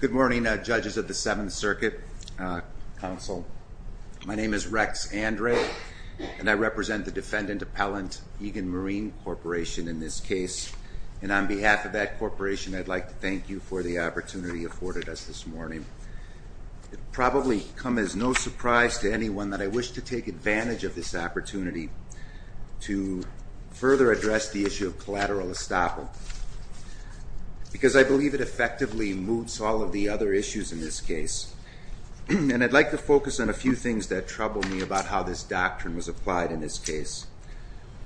Good morning Judges of the Seventh Circuit Council. My name is Rex Andre and I represent the Defendant Appellant Egan Marine Corporation in this case and on behalf of that corporation I'd like to thank you for the opportunity afforded us this morning. It probably come as no surprise to anyone that I wish to take advantage of this opportunity to further address the issue of collateral estoppel because I believe it effectively moves all of the other issues in this case and I'd like to focus on a few things that trouble me about how this doctrine was applied in this case.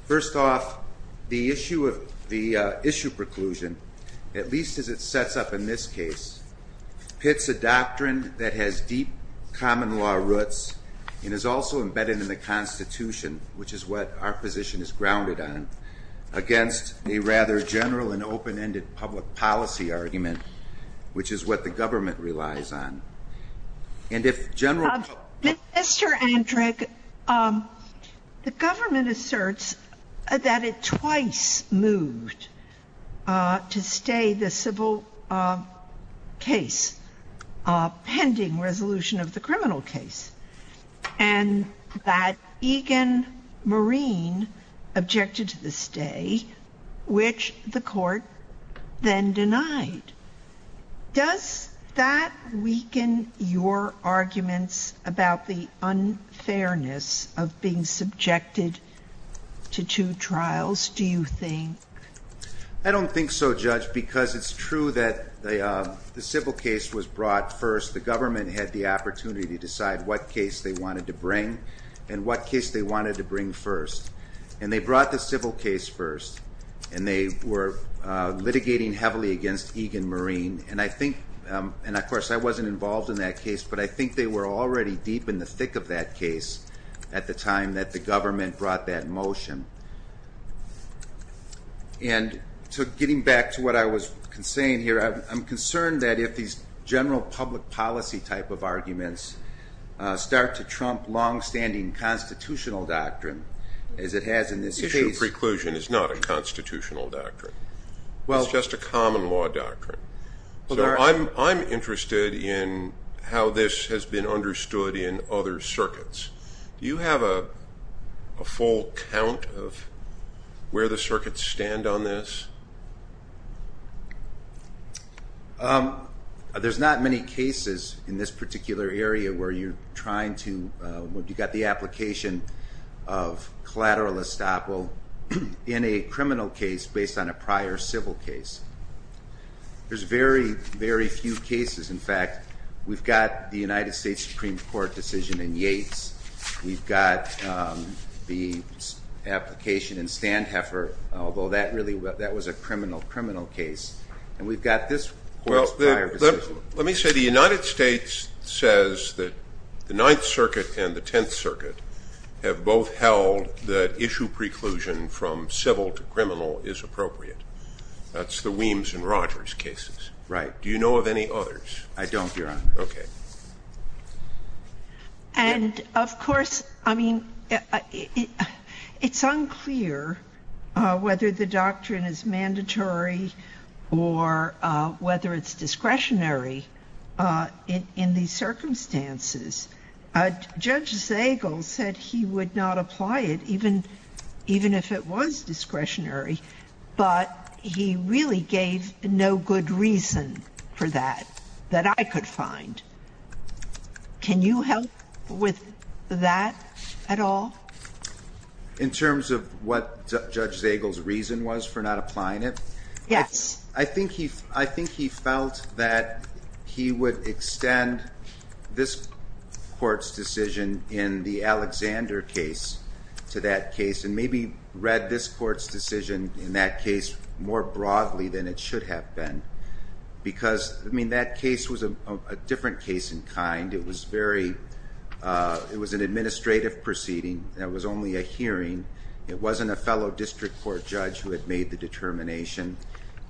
First off the issue of the issue preclusion at least as it sets up in this case pits a doctrine that has deep common law roots and is also embedded in the Constitution which is what our position is grounded on against a rather general and open-ended public policy argument which is what the government relies on. And if General Justice Sotomayor Mr. Andre, the government asserts that it twice moved to stay the pending resolution of the criminal case and that Egan Marine objected to the stay which the court then denied. Does that weaken your arguments about the unfairness of being subjected to two trials do you think? I don't think so Judge because it's true that the civil case was brought first the government had the opportunity to decide what case they wanted to bring and what case they wanted to bring first and they brought the civil case first and they were litigating heavily against Egan Marine and I think and of course I wasn't involved in that case but I think they were already deep in the thick of that case at the time that the government brought that motion. And so getting back to what I was saying here I'm concerned that if these general public policy type of arguments start to trump long-standing constitutional doctrine as it has in this case. Issue preclusion is not a constitutional doctrine well it's just a common law doctrine so I'm interested in how this has been understood in other circuits. Do you have a full count of where the circuits stand on this? There's not many cases in this particular area where you're trying to what you got the application of collateral estoppel in a criminal case based on a prior civil case. There's very very few cases in fact we've got the United States Supreme Court decision in Yates, we've got the application in Sandheffer although that really that was a criminal criminal case and we've got this. Well let me say the United States says that the Ninth Circuit and the Tenth Circuit have both held that issue preclusion from civil to criminal is appropriate. That's the Weems and Rogers cases. Right. Do you know of any others? I whether the doctrine is mandatory or whether it's discretionary in these circumstances. Judge Zagel said he would not apply it even even if it was discretionary but he really gave no good reason for that that I could find. Can you help with that at all? In terms of what Judge Zagel's reason was for not applying it? Yes. I think he I think he felt that he would extend this court's decision in the Alexander case to that case and maybe read this court's decision in that case more broadly than it should have been because I mean that case was a different case in kind. It was very it was an administrative proceeding that was only a hearing. It wasn't a fellow district court judge who had made the determination.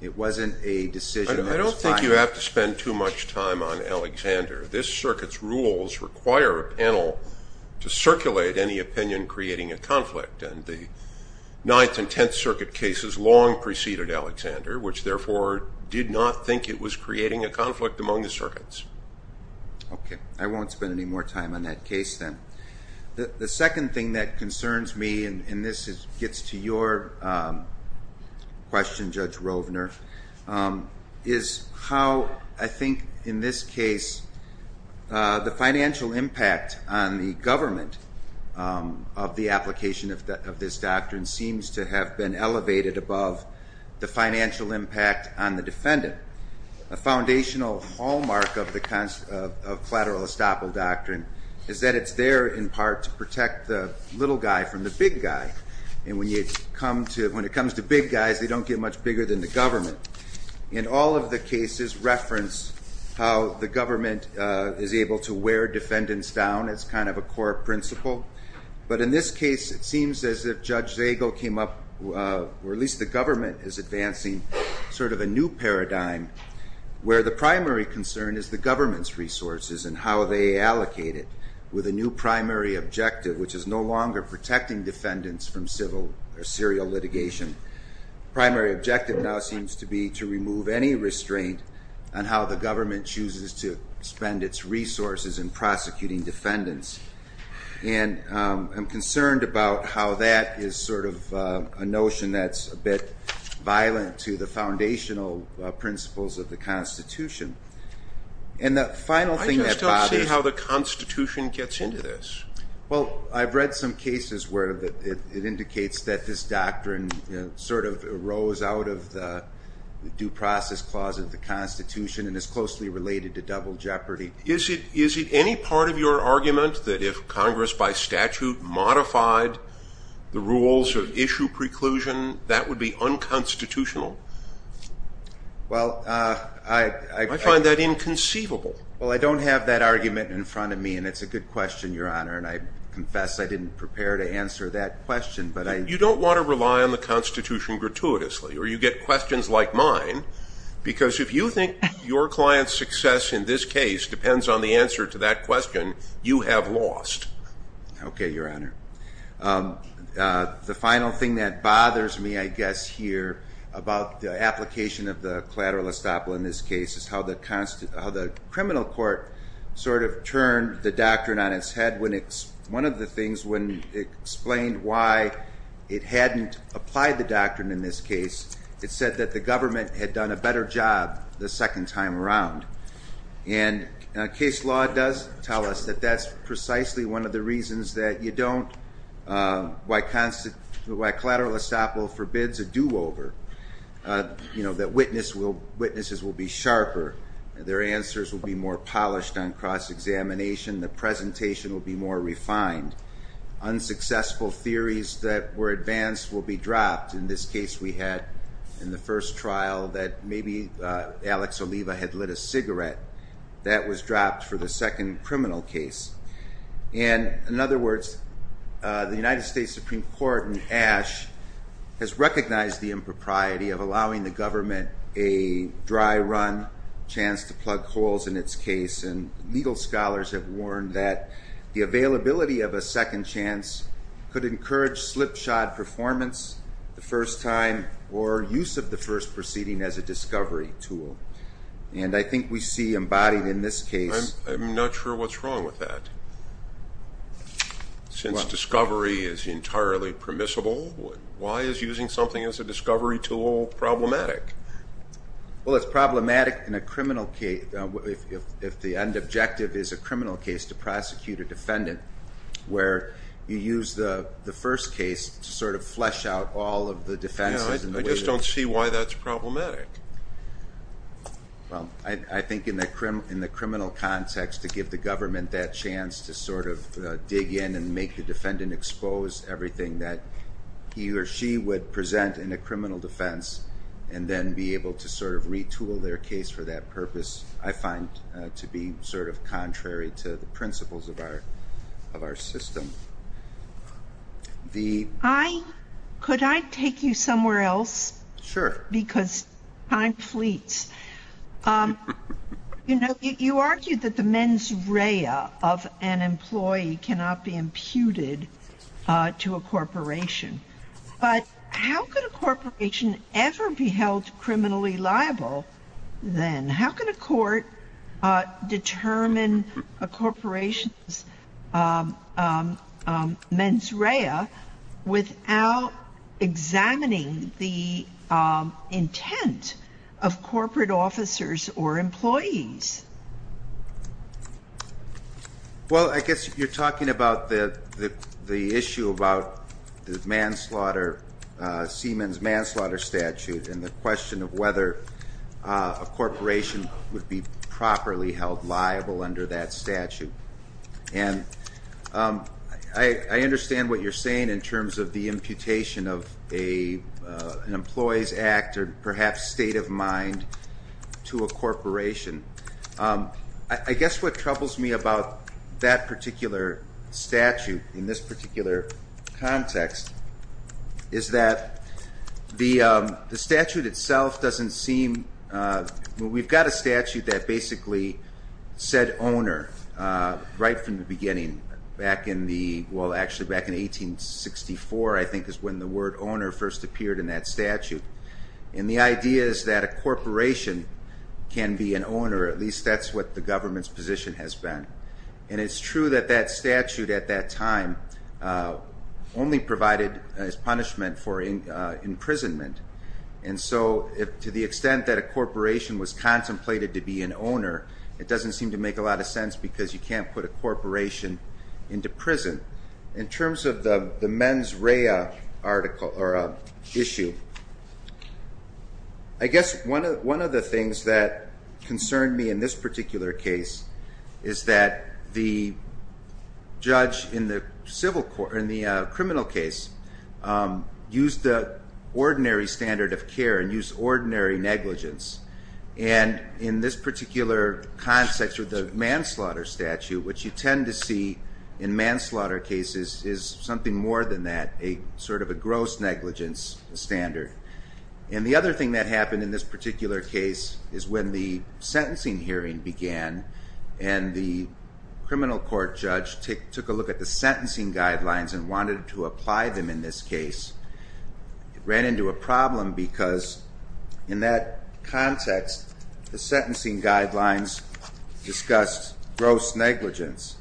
It wasn't a decision. I don't think you have to spend too much time on Alexander. This circuit's rules require a panel to circulate any opinion creating a conflict and the Ninth and Tenth Circuit cases long preceded Alexander which therefore did not think it was creating a conflict among the circuits. Okay I won't spend any more time on that case then. The second thing that concerns me and this is gets to your question Judge Rovner is how I think in this case the financial impact on the government of the application of this doctrine seems to have been elevated above the hallmark of the concept of collateral estoppel doctrine is that it's there in part to protect the little guy from the big guy and when you come to when it comes to big guys they don't get much bigger than the government. In all of the cases reference how the government is able to wear defendants down it's kind of a core principle but in this case it seems as if Judge Zagel came up or at least the government is advancing sort of a new paradigm where the primary concern is the government's resources and how they allocate it with a new primary objective which is no longer protecting defendants from civil or serial litigation. Primary objective now seems to be to remove any restraint on how the government chooses to spend its resources in prosecuting defendants and I'm concerned about how that is sort of a notion that's a bit violent to the foundational principles of the Constitution and the final thing that bothers me. I just don't see how the Constitution gets into this. Well I've read some cases where that it indicates that this doctrine sort of arose out of the due process clause of the Constitution and is closely related to double jeopardy. Is it is it any part of your argument that if Congress by statute modified the rules of issue preclusion that would be unconstitutional? Well I find that inconceivable. Well I don't have that argument in front of me and it's a good question your honor and I confess I didn't prepare to answer that question but I. You don't want to rely on the Constitution gratuitously or you get questions like mine because if you think your client's success in this case depends on the answer to that question you have lost. Okay your honor. The final thing that bothers me I guess here about the application of the collateral estoppel in this case is how the constant how the criminal court sort of turned the doctrine on its head when it's one of the things when it explained why it hadn't applied the doctrine in this it said that the government had done a better job the second time around and case law does tell us that that's precisely one of the reasons that you don't why collateral estoppel forbids a do-over. You know that witnesses will be sharper, their answers will be more polished on cross-examination, the presentation will be more refined, unsuccessful theories that were advanced will be dropped in this case we had in the first trial that maybe Alex Oliva had lit a cigarette that was dropped for the second criminal case and in other words the United States Supreme Court and Ash has recognized the impropriety of allowing the government a dry run chance to plug holes in its case and legal scholars have warned that the availability of a discovery tool would encourage slipshod performance the first time or use of the first proceeding as a discovery tool and I think we see embodied in this case. I'm not sure what's wrong with that since discovery is entirely permissible why is using something as a discovery tool problematic? Well it's problematic in a criminal case if the end objective is a criminal case to prosecute a defendant where you use the the first case to sort of flesh out all of the defenses. I just don't see why that's problematic. Well I think in the criminal context to give the government that chance to sort of dig in and make the defendant expose everything that he or she would present in a criminal defense and then be able to sort of retool their case for that purpose I find to be sort of contrary to the principles of our of our system. Could I take you somewhere else? Sure. Because time fleets. You know you argued that the mens rea of an employee cannot be imputed to a corporation but how could a corporation ever be held criminally liable then? How can a court determine a corporation's mens rea without examining the intent of corporate officers or employees? Well I guess you're talking about the the issue about the manslaughter, Seaman's manslaughter statute and the question of whether a corporation would be properly held liable under that statute and I understand what you're saying in terms of the imputation of a an employee's act or perhaps state of mind to a corporation. I guess what troubles me about that particular statute in this the statute itself doesn't seem, we've got a statute that basically said owner right from the beginning back in the well actually back in 1864 I think is when the word owner first appeared in that statute and the idea is that a corporation can be an owner at least that's what the government's position has been and it's true that that statute at that time only provided as punishment for imprisonment and so if to the extent that a corporation was contemplated to be an owner it doesn't seem to make a lot of sense because you can't put a corporation into prison. In terms of the the mens rea article or issue I guess one of one of the things that concerned me in this particular case is that the use the ordinary standard of care and use ordinary negligence and in this particular context with the manslaughter statute which you tend to see in manslaughter cases is something more than that a sort of a gross negligence standard and the other thing that happened in this particular case is when the sentencing hearing began and the criminal court judge took a look at the ran into a problem because in that context the sentencing guidelines discussed gross negligence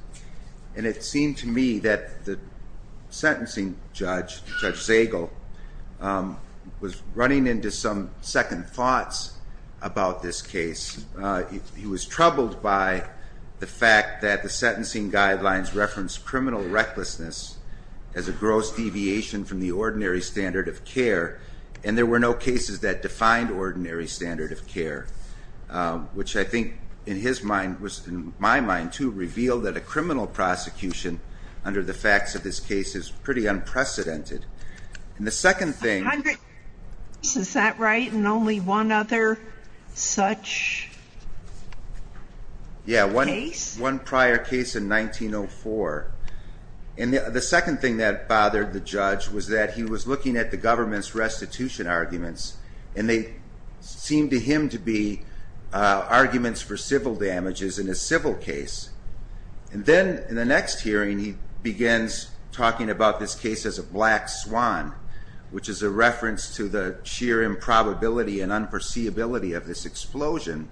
and it seemed to me that the sentencing judge, Judge Zagel, was running into some second thoughts about this case. He was troubled by the fact that the sentencing guidelines reference criminal recklessness as a gross deviation from the ordinary standard of care and there were no cases that defined ordinary standard of care which I think in his mind was in my mind to reveal that a criminal prosecution under the facts of this case is pretty unprecedented and the second thing. Is that right and only one other such case? Yeah one prior case in 1904 and the second thing that bothered the judge was that he was looking at the government's restitution arguments and they seemed to him to be arguments for civil damages in a civil case and then in the next hearing he begins talking about this case as a black swan which is a reference to the sheer improbability and unforeseeability of this explosion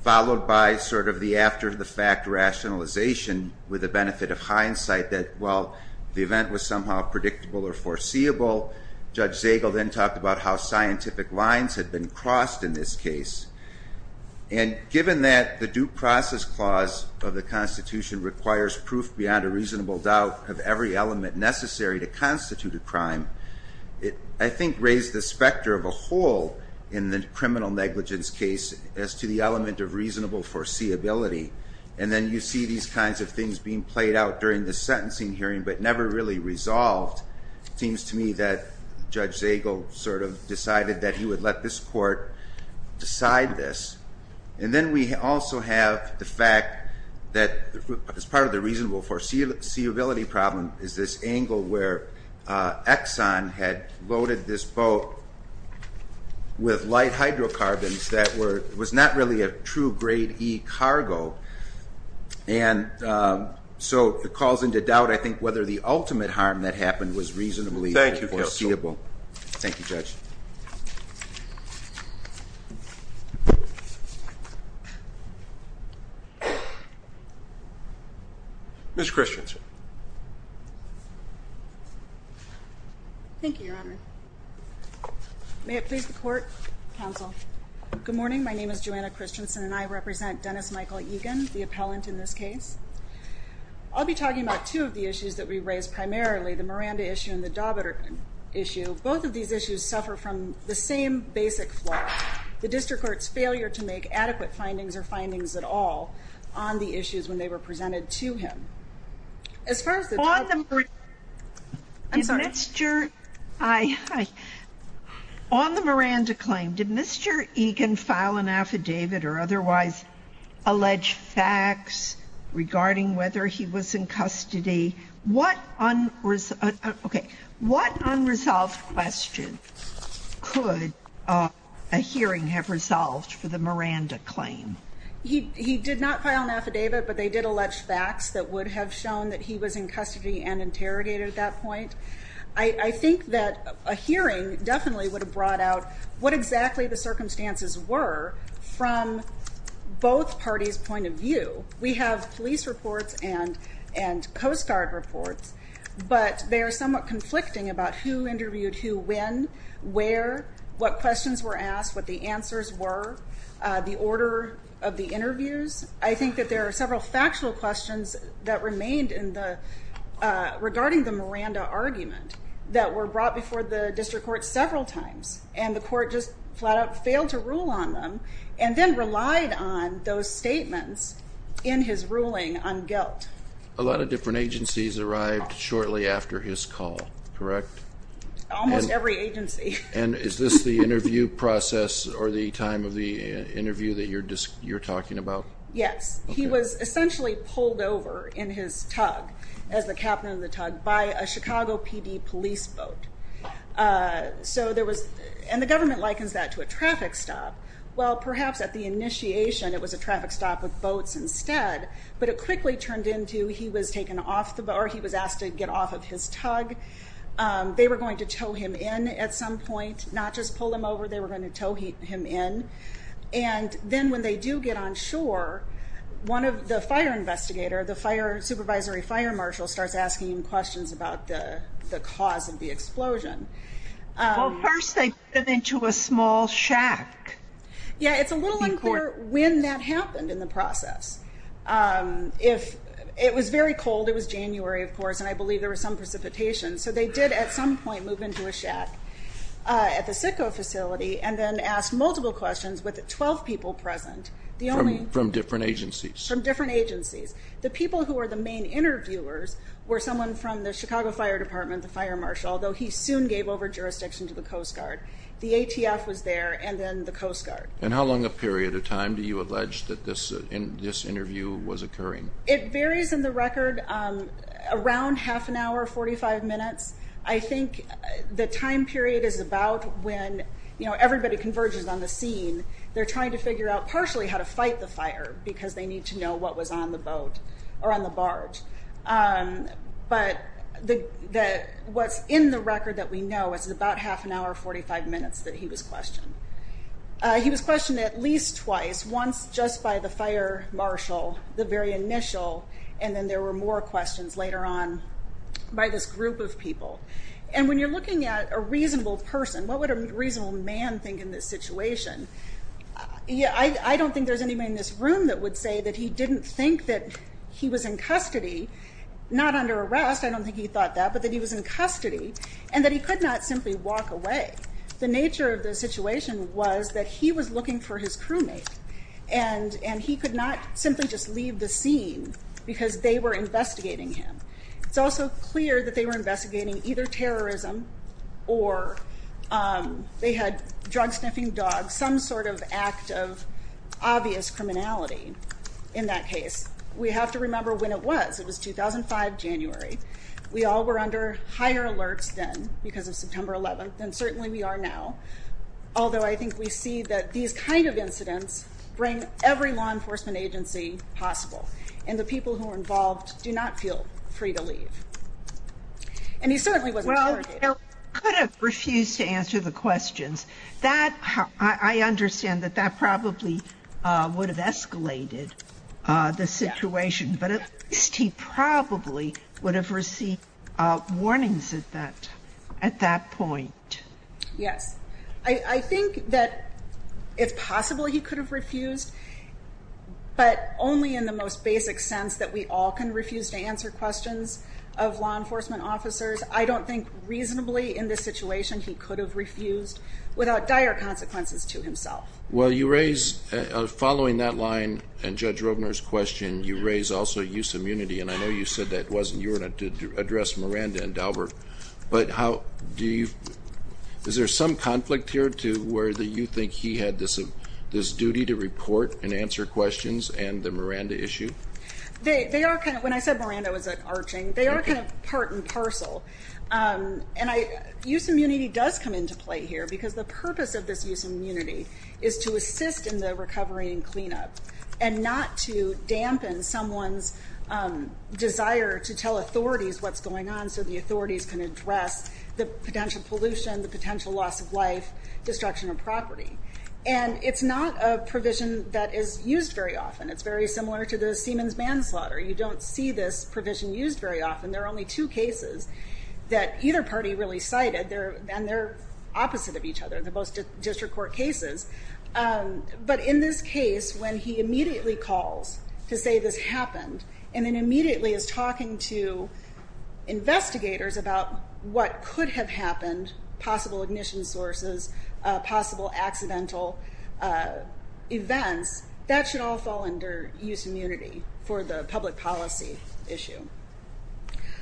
followed by sort of the after-the-fact rationalization with the benefit of hindsight that well the event was somehow predictable or foreseeable. Judge Zagel then talked about how scientific lines had been crossed in this case and given that the due process clause of the Constitution requires proof beyond a reasonable doubt of every element necessary to constitute a crime. It I think raised the specter of a whole in the criminal negligence case as to the element of reasonable foreseeability and then you see these kinds of things being played out during the sentencing hearing but never really resolved. It seems to me that Judge Zagel sort of decided that he would let this court decide this and then we also have the fact that as part of the reasonable foreseeability problem is this angle where Exxon had loaded this boat with light hydrocarbons that were was not really a true grade E cargo and so it calls into doubt I think whether the ultimate harm that happened was reasonably foreseeable. Thank you, Judge. Ms. Christensen. Thank you, Your Honor. May it please the court, counsel. Good morning, my name is Joanna Christensen and I represent Dennis Michael Egan, the appellant in this case. I'll be talking about two of the issues that we raised primarily the Miranda issue and the Daubert issue. Both of these issues suffer from the same basic flaw, the district court's failure to make adequate findings or findings at all on the issues when they were presented to him. On the Miranda claim, did Mr. Egan file an affidavit or otherwise allege facts regarding whether he was in custody? What unresolved question could a hearing have resolved for the Miranda claim? He did not file an affidavit but they did allege facts that would have shown that he was in custody and interrogated at that point. I think that a hearing definitely would have brought out what exactly the circumstances were from both parties point of view. We have police reports and Coast Guard reports but they are somewhat conflicting about who interviewed who, when, where, what questions were asked, what the answers were, the order of the interviews. I think that there are several factual questions that remained regarding the Miranda argument that were brought before the district court several times and the court just flat-out failed to rule on them and then relied on those statements in his ruling on guilt. A lot of different agencies arrived shortly after his call, correct? Almost every agency. And is this the interview process or the time of the interview that you're talking about? Yes, he was essentially pulled over in his tug, as the captain of the tug, by a Chicago PD police boat. So there was, and the government likens that to a traffic stop, well perhaps at the initiation it was a he was asked to get off of his tug. They were going to tow him in at some point, not just pull him over, they were going to tow him in. And then when they do get on shore, one of the fire investigator, the fire supervisory fire marshal, starts asking questions about the cause of the explosion. Well first they put him into a small shack. Yeah, it's a little unclear when that happened in the It was January, of course, and I believe there was some precipitation. So they did at some point move into a shack at the Sitco facility and then asked multiple questions with 12 people present. From different agencies? From different agencies. The people who are the main interviewers were someone from the Chicago Fire Department, the fire marshal, though he soon gave over jurisdiction to the Coast Guard. The ATF was there and then the Coast Guard. And how long a period of time do you allege that this interview was around half an hour, 45 minutes? I think the time period is about when, you know, everybody converges on the scene. They're trying to figure out partially how to fight the fire because they need to know what was on the boat or on the barge. But what's in the record that we know is about half an hour, 45 minutes that he was questioned. He was questioned at least twice, once just by the fire marshal, the very initial, and then there were more questions later on by this group of people. And when you're looking at a reasonable person, what would a reasonable man think in this situation? Yeah, I don't think there's anybody in this room that would say that he didn't think that he was in custody, not under arrest, I don't think he thought that, but that he was in custody and that he could not simply walk away. The nature of the situation was that he was looking for his crew mate and and he could not simply just leave the scene because they were investigating him. It's also clear that they were investigating either terrorism or, um, they had drug sniffing dogs, some sort of act of obvious criminality. In that case, we have to remember when it was. It was 2005 January. We all were under higher alerts then because of these kind of incidents bring every law enforcement agency possible and the people who are involved do not feel free to leave. And he certainly was. Well, could have refused to answer the questions that I understand that that probably would have escalated the situation, but he probably would have received warnings at that at that point. Yes, I think that it's possible he could have refused, but only in the most basic sense that we all can refuse to answer questions of law enforcement officers. I don't think reasonably in this situation he could have refused without dire consequences to himself. Well, you raise following that line and Judge Robner's question, you raise also use immunity. And I know you said that wasn't you were to address Miranda and Albert. But how do you Is there some conflict here to where you think he had this duty to report and answer questions and the Miranda issue? They are kind of when I said Miranda was an arching, they are kind of part and parcel. And I use immunity does come into play here because the purpose of this use immunity is to assist in the recovery and cleanup and not to dampen someone's desire to tell authorities what's going on. So the authorities can address the potential pollution, the life, destruction of property. And it's not a provision that is used very often. It's very similar to the Siemens manslaughter. You don't see this provision used very often. There are only two cases that either party really cited there and they're opposite of each other, the most district court cases. But in this case, when he immediately calls to say this happened and then immediately is talking to investigators about what could have happened, possible ignition sources, possible accidental events, that should all fall under use of immunity for the public policy issue.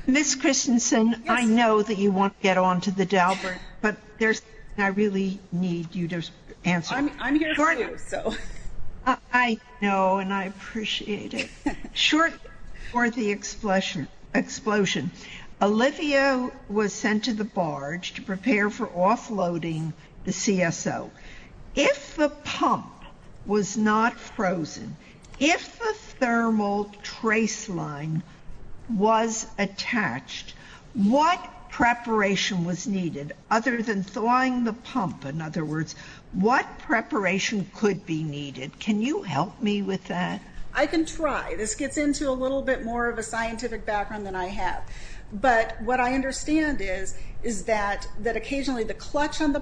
Ms. Christensen, I know that you want to get on to the Dalbert, but there's I really need you to answer. I'm here to do so. I know and I appreciate it. Short before the explosion, Olivia was sent to the CSO. If the pump was not frozen, if the thermal trace line was attached, what preparation was needed other than thawing the pump? In other words, what preparation could be needed? Can you help me with that? I can try. This gets into a little bit more of a scientific background than I have. But what I the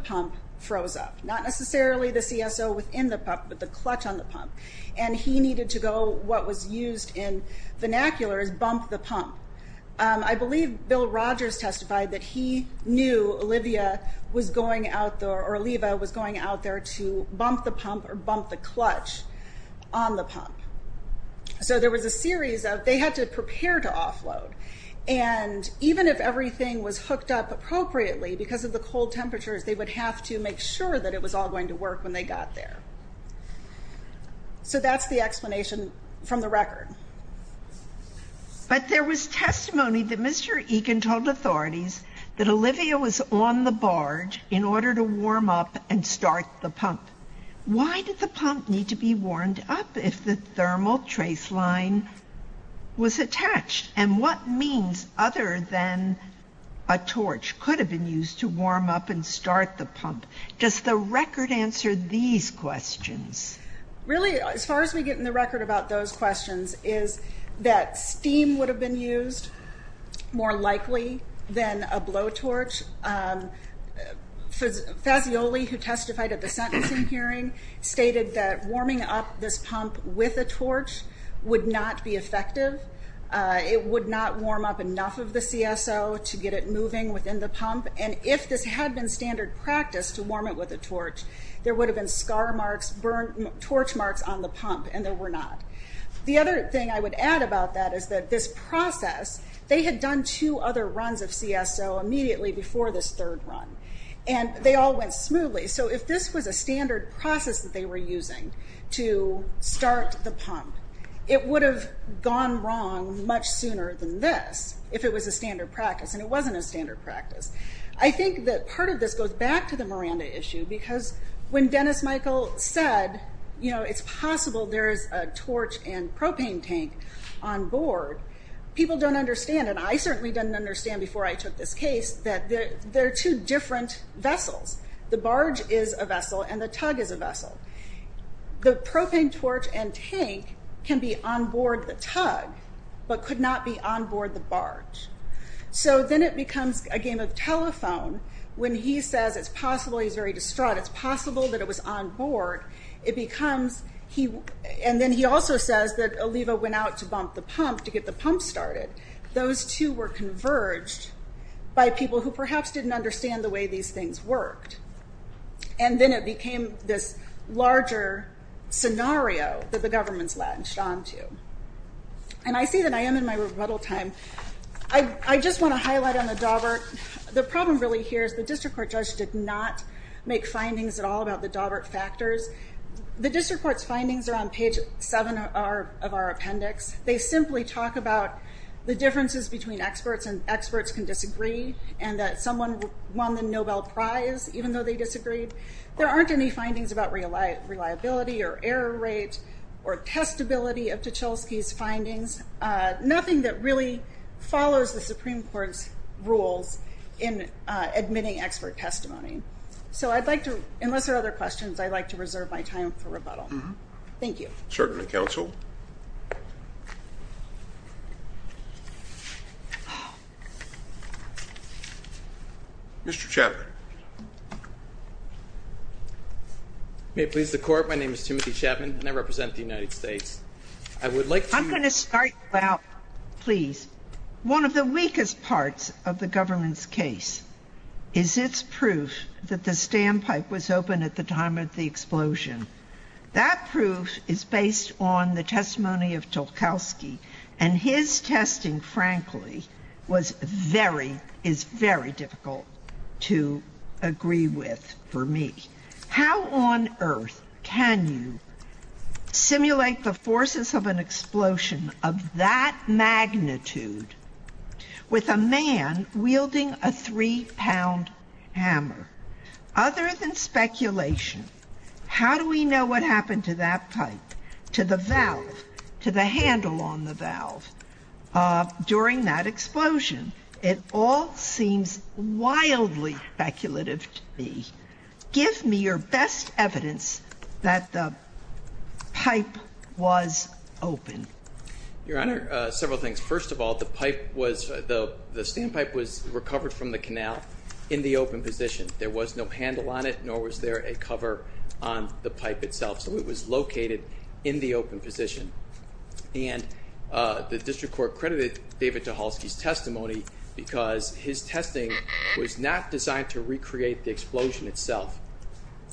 pump froze up, not necessarily the CSO within the pump, but the clutch on the pump. And he needed to go, what was used in vernacular, is bump the pump. I believe Bill Rogers testified that he knew Olivia was going out there or Oliva was going out there to bump the pump or bump the clutch on the pump. So there was a series of, they had to prepare to offload. And even if everything was hooked up appropriately because of the cold temperatures, they would have to make sure that it was all going to work when they got there. So that's the explanation from the record. But there was testimony that Mr. Egan told authorities that Olivia was on the barge in order to warm up and start the pump. Why did the pump need to be warmed up if the thermal trace line was attached? And what means other than a torch could have been used to warm up and start the pump? Does the record answer these questions? Really, as far as we get in the record about those questions, is that steam would have been used more likely than a blowtorch. Fazioli, who testified at the sentencing hearing, stated that warming up this pump with a torch would not be effective. It would not warm up enough of the CSO to get it moving within the pump. And if this had been standard practice to warm it with a torch, there would have been scar marks, torch marks on the pump, and there were not. The other thing I would add about that is that this process, they had done two other runs of CSO immediately before this third run, and they all went smoothly. So if this was a standard process that they were using to start the pump, it would have gone wrong much sooner than this if it was a standard practice. And it wasn't a that part of this goes back to the Miranda issue, because when Dennis Michael said, you know, it's possible there is a torch and propane tank on board, people don't understand, and I certainly didn't understand before I took this case, that there are two different vessels. The barge is a vessel and the tug is a vessel. The propane torch and tank can be on board the tug, but could not be on board the barge. So then it becomes a game of telephone when he says it's possible, he's very distraught, it's possible that it was on board. It becomes, and then he also says that Oliva went out to bump the pump to get the pump started. Those two were converged by people who perhaps didn't understand the way these things worked. And then it became this larger scenario that the government's latched on to. And I see that I am in my rebuttal time. I just want to highlight on the Daubert, the problem really here is the district court judge did not make findings at all about the Daubert factors. The district court's findings are on page seven of our appendix. They simply talk about the differences between experts and experts can disagree and that someone won the Nobel Prize even though they disagreed. There aren't any findings about reliability or error rate or testability of Tchelsky's findings. Nothing that really follows the Supreme Court's rules in admitting expert testimony. So I'd like to, unless there are other questions, I'd like to reserve my time for rebuttal. Thank you. Certainly, counsel. Mr. Chaffin. May it please the court. My name is Timothy Chapman and I represent the United States. I would like, I'm going to start out, please. One of the weakest parts of the government's case is its proof that the standpipe was open at the time of the explosion. That proof is based on the testimony of Tchelsky and his testing, frankly, was very, is very difficult to agree with for me. How on earth can you simulate the forces of an explosion of that magnitude with a man wielding a three-pound hammer? Other than speculation, how do we know what happened to that pipe, to the valve, to the handle on the valve during that explosion? It all seems wildly speculative to me. Give me your best evidence that the pipe was open. Your Honor, several things. First of all, the pipe was, the standpipe was recovered from the canal in the open position. There was no handle on it, nor was there a cover on the pipe itself. So it was located in the open position. And the district court credited David Tchelsky's testimony because his testing was not designed to recreate the explosion itself.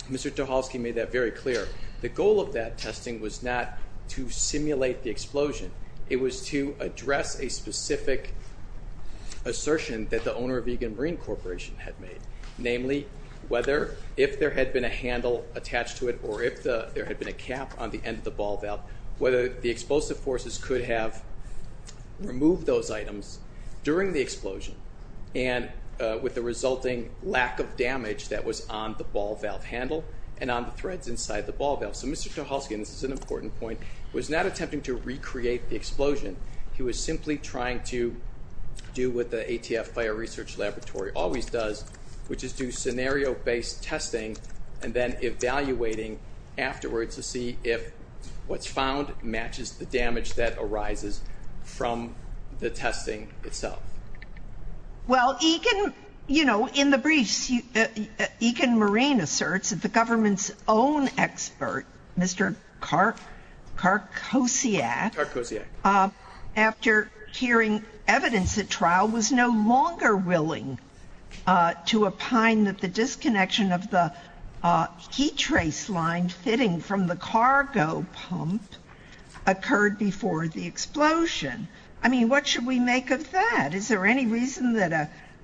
Mr. Tchelsky made that very clear. The goal of that testing was not to simulate the explosion. It was to address a specific assertion that the owner of Eagan Marine Corporation had made. Namely, whether, if there had been a handle attached to it, or if there had been a cap on the end of the ball valve, whether the explosive forces could have removed those items during the explosion, and with the resulting lack of damage that was on the ball valve handle and on the threads inside the ball valve. So Mr. Tchelsky, and this is an important point, was not attempting to recreate the explosion. He was simply trying to do what the ATF Fire Research Laboratory always does, which is do scenario based testing and then evaluating afterwards to see if what's the damage that arises from the testing itself. Well, Eagan, in the briefs, Eagan Marine asserts that the government's own expert, Mr. Karkosiak, after hearing evidence at trial, was no longer willing to opine that the disconnection of the heat trace line fitting from the cargo pump occurred before the explosion. I mean, what should we make of that? Is there any reason that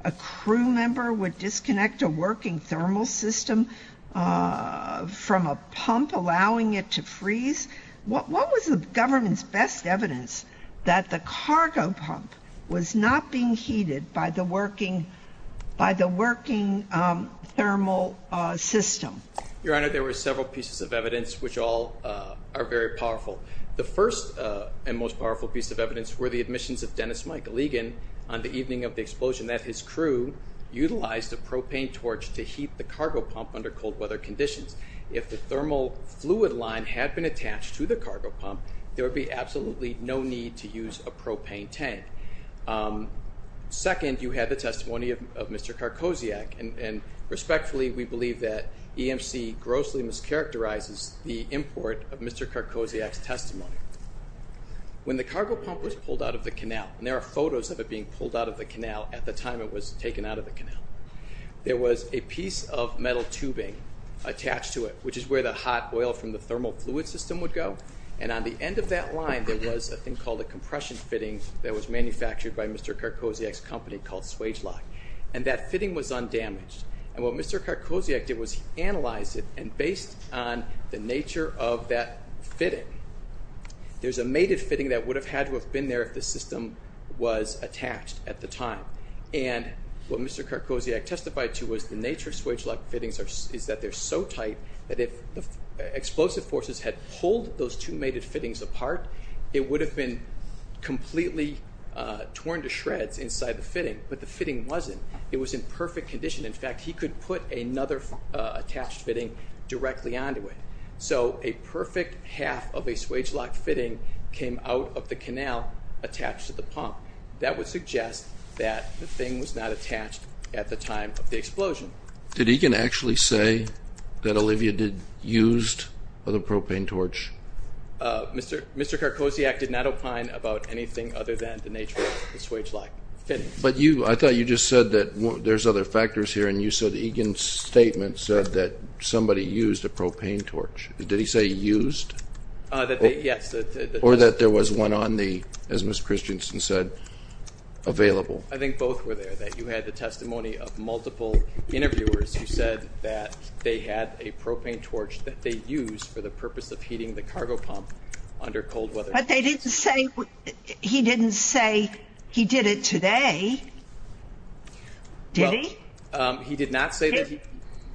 a crew member would disconnect a working thermal system from a pump, allowing it to freeze? What was the government's best evidence that the cargo pump was not being heated by the working thermal system? Your Honor, there were several pieces of evidence, which all are very powerful. The first and most powerful piece of evidence were the admissions of Dennis Michael Eagan on the evening of the explosion, that his crew utilized a propane torch to heat the cargo pump under cold weather conditions. If the thermal fluid line had been attached to the cargo pump, there would be absolutely no need to use a propane tank. Second, you had the testimony of Mr. Karkosiak, and respectfully, we believe that EMC grossly mischaracterizes the import of Mr. Karkosiak's testimony. When the cargo pump was pulled out of the canal, and there are photos of it being pulled out of the canal at the time it was taken out of the canal, there was a piece of metal tubing attached to it, which is where the hot oil from the thermal fluid system would go, and on the end of that line, there was a thing called a compression fitting that was manufactured by Mr. Karkosiak's company called Swagelok, and that fitting was undamaged. And what Mr. Karkosiak did was analyze it, and based on the nature of that fitting, there's a mated fitting that would have had to have been there if the system was attached at the time. And what Mr. Karkosiak testified to was the nature of Swagelok fittings is that they're so tight that if the explosive forces had pulled those two mated fittings apart, it would have been completely torn to shreds inside the fitting, but the fitting wasn't. It was in perfect condition. In fact, he could put another attached fitting directly onto it. So a perfect half of a Swagelok fitting came out of the canal attached to the pump. That would suggest that the thing was not attached at the time of the explosion. Did Egan actually say that Olivia used a propane torch? Mr. Karkosiak did not opine about anything other than the nature of the Swagelok fitting. But you... I thought you just said that there's other factors here, and you said Egan's statement said that somebody used a propane torch. Did he say used? Yes. Or that there was one on the, as Ms. Christensen said, available. I think both were there, that you had the testimony of multiple interviewers who said that they had a propane torch that they used for the purpose of heating the cargo pump under cold weather. But they didn't say... He didn't say he did it today. Did he? He did not say that.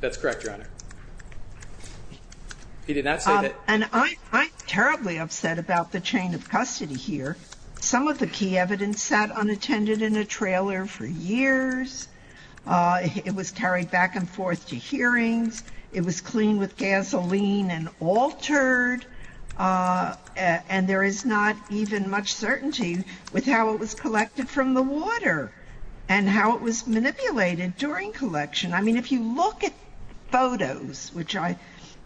That's correct, Your Honor. He did not say that. And I'm terribly upset about the chain of custody here. Some of the key evidence sat unattended in a trailer for years. It was carried back and forth to hearings. It was clean with gasoline and altered. And there is not even much certainty with how it was collected from the water and how it was manipulated during collection. I mean, if you look at photos, which I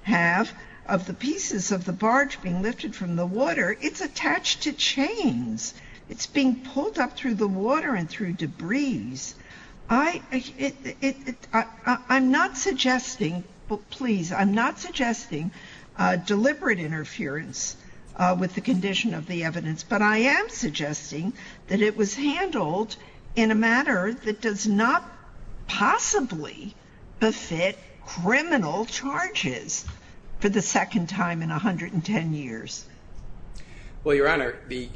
have, of the pieces of the barge being lifted from the water, it's attached to chains. It's being pulled up through the water and through debris. I'm not suggesting, please, I'm not suggesting deliberate interference with the condition of the evidence, but I am suggesting that it was handled in a manner that does not possibly befit criminal charges for the second time in 110 years. Well, Your Honor, the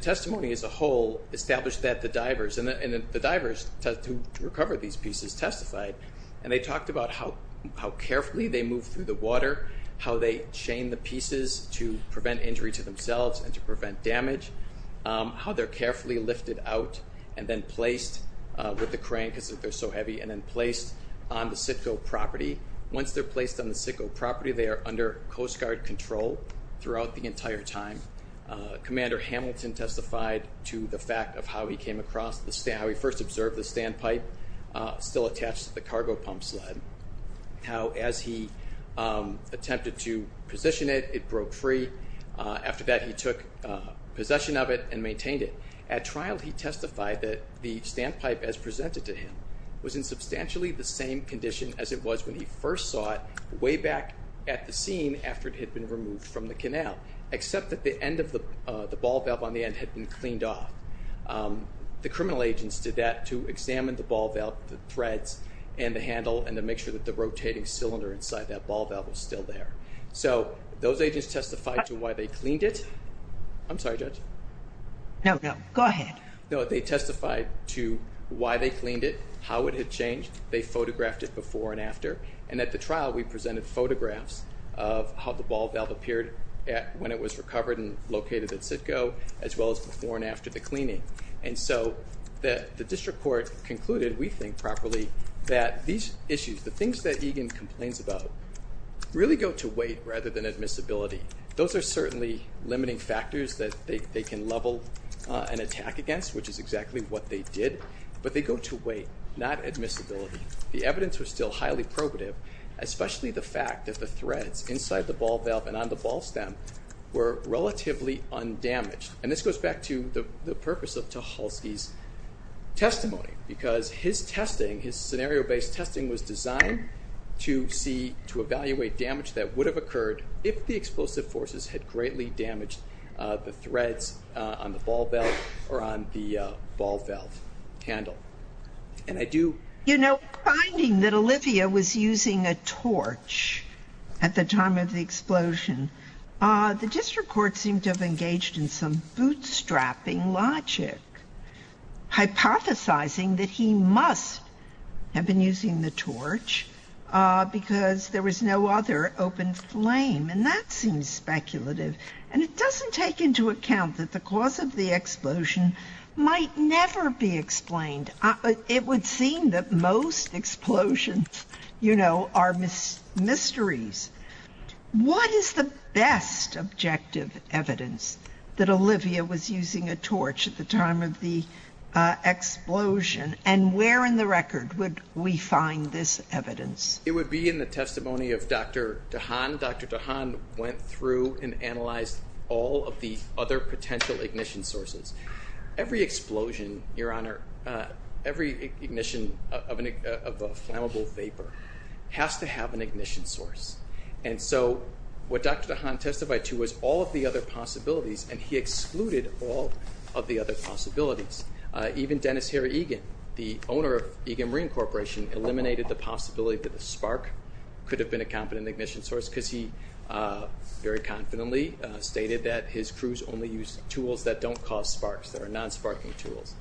testimony as a whole established that the divers, and the divers who recovered these pieces, testified. And they talked about how carefully they moved through the water, how they chained the pieces to prevent injury to themselves and to prevent damage, how they're carefully lifted out and then placed with the crane, because they're so heavy, and then placed on the Sitco property. Once they're placed on the Sitco property, they are under Coast Guard control throughout the entire time. Commander Hamilton testified to the fact of how he came across the... How he first observed the barge, attempted to position it, it broke free. After that, he took possession of it and maintained it. At trial, he testified that the standpipe as presented to him was in substantially the same condition as it was when he first saw it, way back at the scene after it had been removed from the canal, except that the end of the ball valve on the end had been cleaned off. The criminal agents did that to examine the ball valve, the threads and the handle, and to make sure that the rotating cylinder inside that ball valve was still there. So those agents testified to why they cleaned it. I'm sorry, Judge. No, no, go ahead. No, they testified to why they cleaned it, how it had changed, they photographed it before and after, and at the trial, we presented photographs of how the ball valve appeared when it was recovered and located at Sitco, as well as before and after the cleaning. And so, the district court concluded, we think properly, that these issues, the things that Egan complains about, really go to weight rather than admissibility. Those are certainly limiting factors that they can level an attack against, which is exactly what they did, but they go to weight, not admissibility. The evidence was still highly probative, especially the fact that the threads inside the ball valve and on the ball stem were relatively undamaged. And this goes back to the purpose of Tucholsky's testimony, because his testing, his scenario based testing was designed to see, to evaluate damage that would have occurred if the explosive forces had greatly damaged the threads on the ball valve or on the ball valve handle. And I do... You know, finding that Olivia was using a torch at the time of the explosion, the district court seemed to have engaged in some bootstrapping logic, hypothesizing that he must have been using the torch because there was no other open flame. And that seems speculative. And it doesn't take into account that the cause of the explosion might never be explained. It would seem that most explosions, you know, are mysteries. What is the best objective evidence that Olivia was using a torch at the time of the explosion? And where in the record would we find this evidence? It would be in the testimony of Dr. DeHaan. Dr. DeHaan went through and analyzed all of the other potential ignition sources. Every explosion, Your Honor, every ignition of a flammable vapor has to have an ignition source. And so what Dr. DeHaan testified to was all of the other possibilities, and he excluded all of the other possibilities. Even Dennis Harry Egan, the owner of Egan Marine Corporation, eliminated the possibility that the spark could have been a competent ignition source because he very confidently stated that his crews only use tools that don't cause sparks, that are non sparking tools.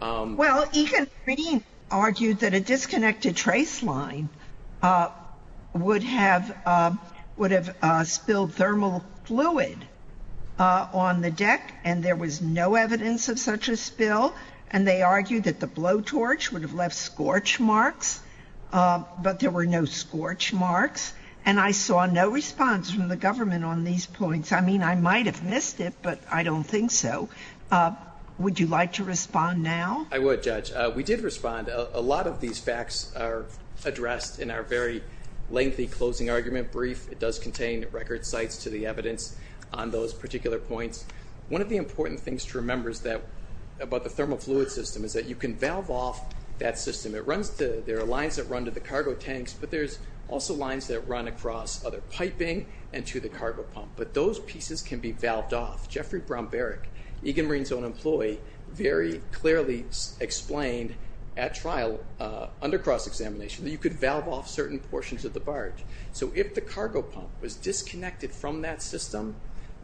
Well, Egan Marine argued that a disconnected trace line would have spilled thermal fluid on the deck, and there was no evidence of such a spill. And they argued that the blow torch would have left scorch marks, but there were no scorch marks. And I saw no response from the government on these points. I mean, I might have missed it, but I don't think so. Would you like to respond now? I would, Judge. We did respond. A lot of these facts are addressed in our very lengthy closing argument brief. It does contain record sites to the evidence on those particular points. One of the important things to remember is that, about the thermal fluid system, is that you can valve off that system. It runs to... There are lines that run to the cargo tanks, but there's also lines that run across other piping and to the cargo pump. But those pieces can be valved off. Geoffrey Brown Barrick, Egan Marine's own employee, very clearly explained at trial, under cross examination, that you could valve off certain portions of the barge. So if the cargo pump was disconnected from that system,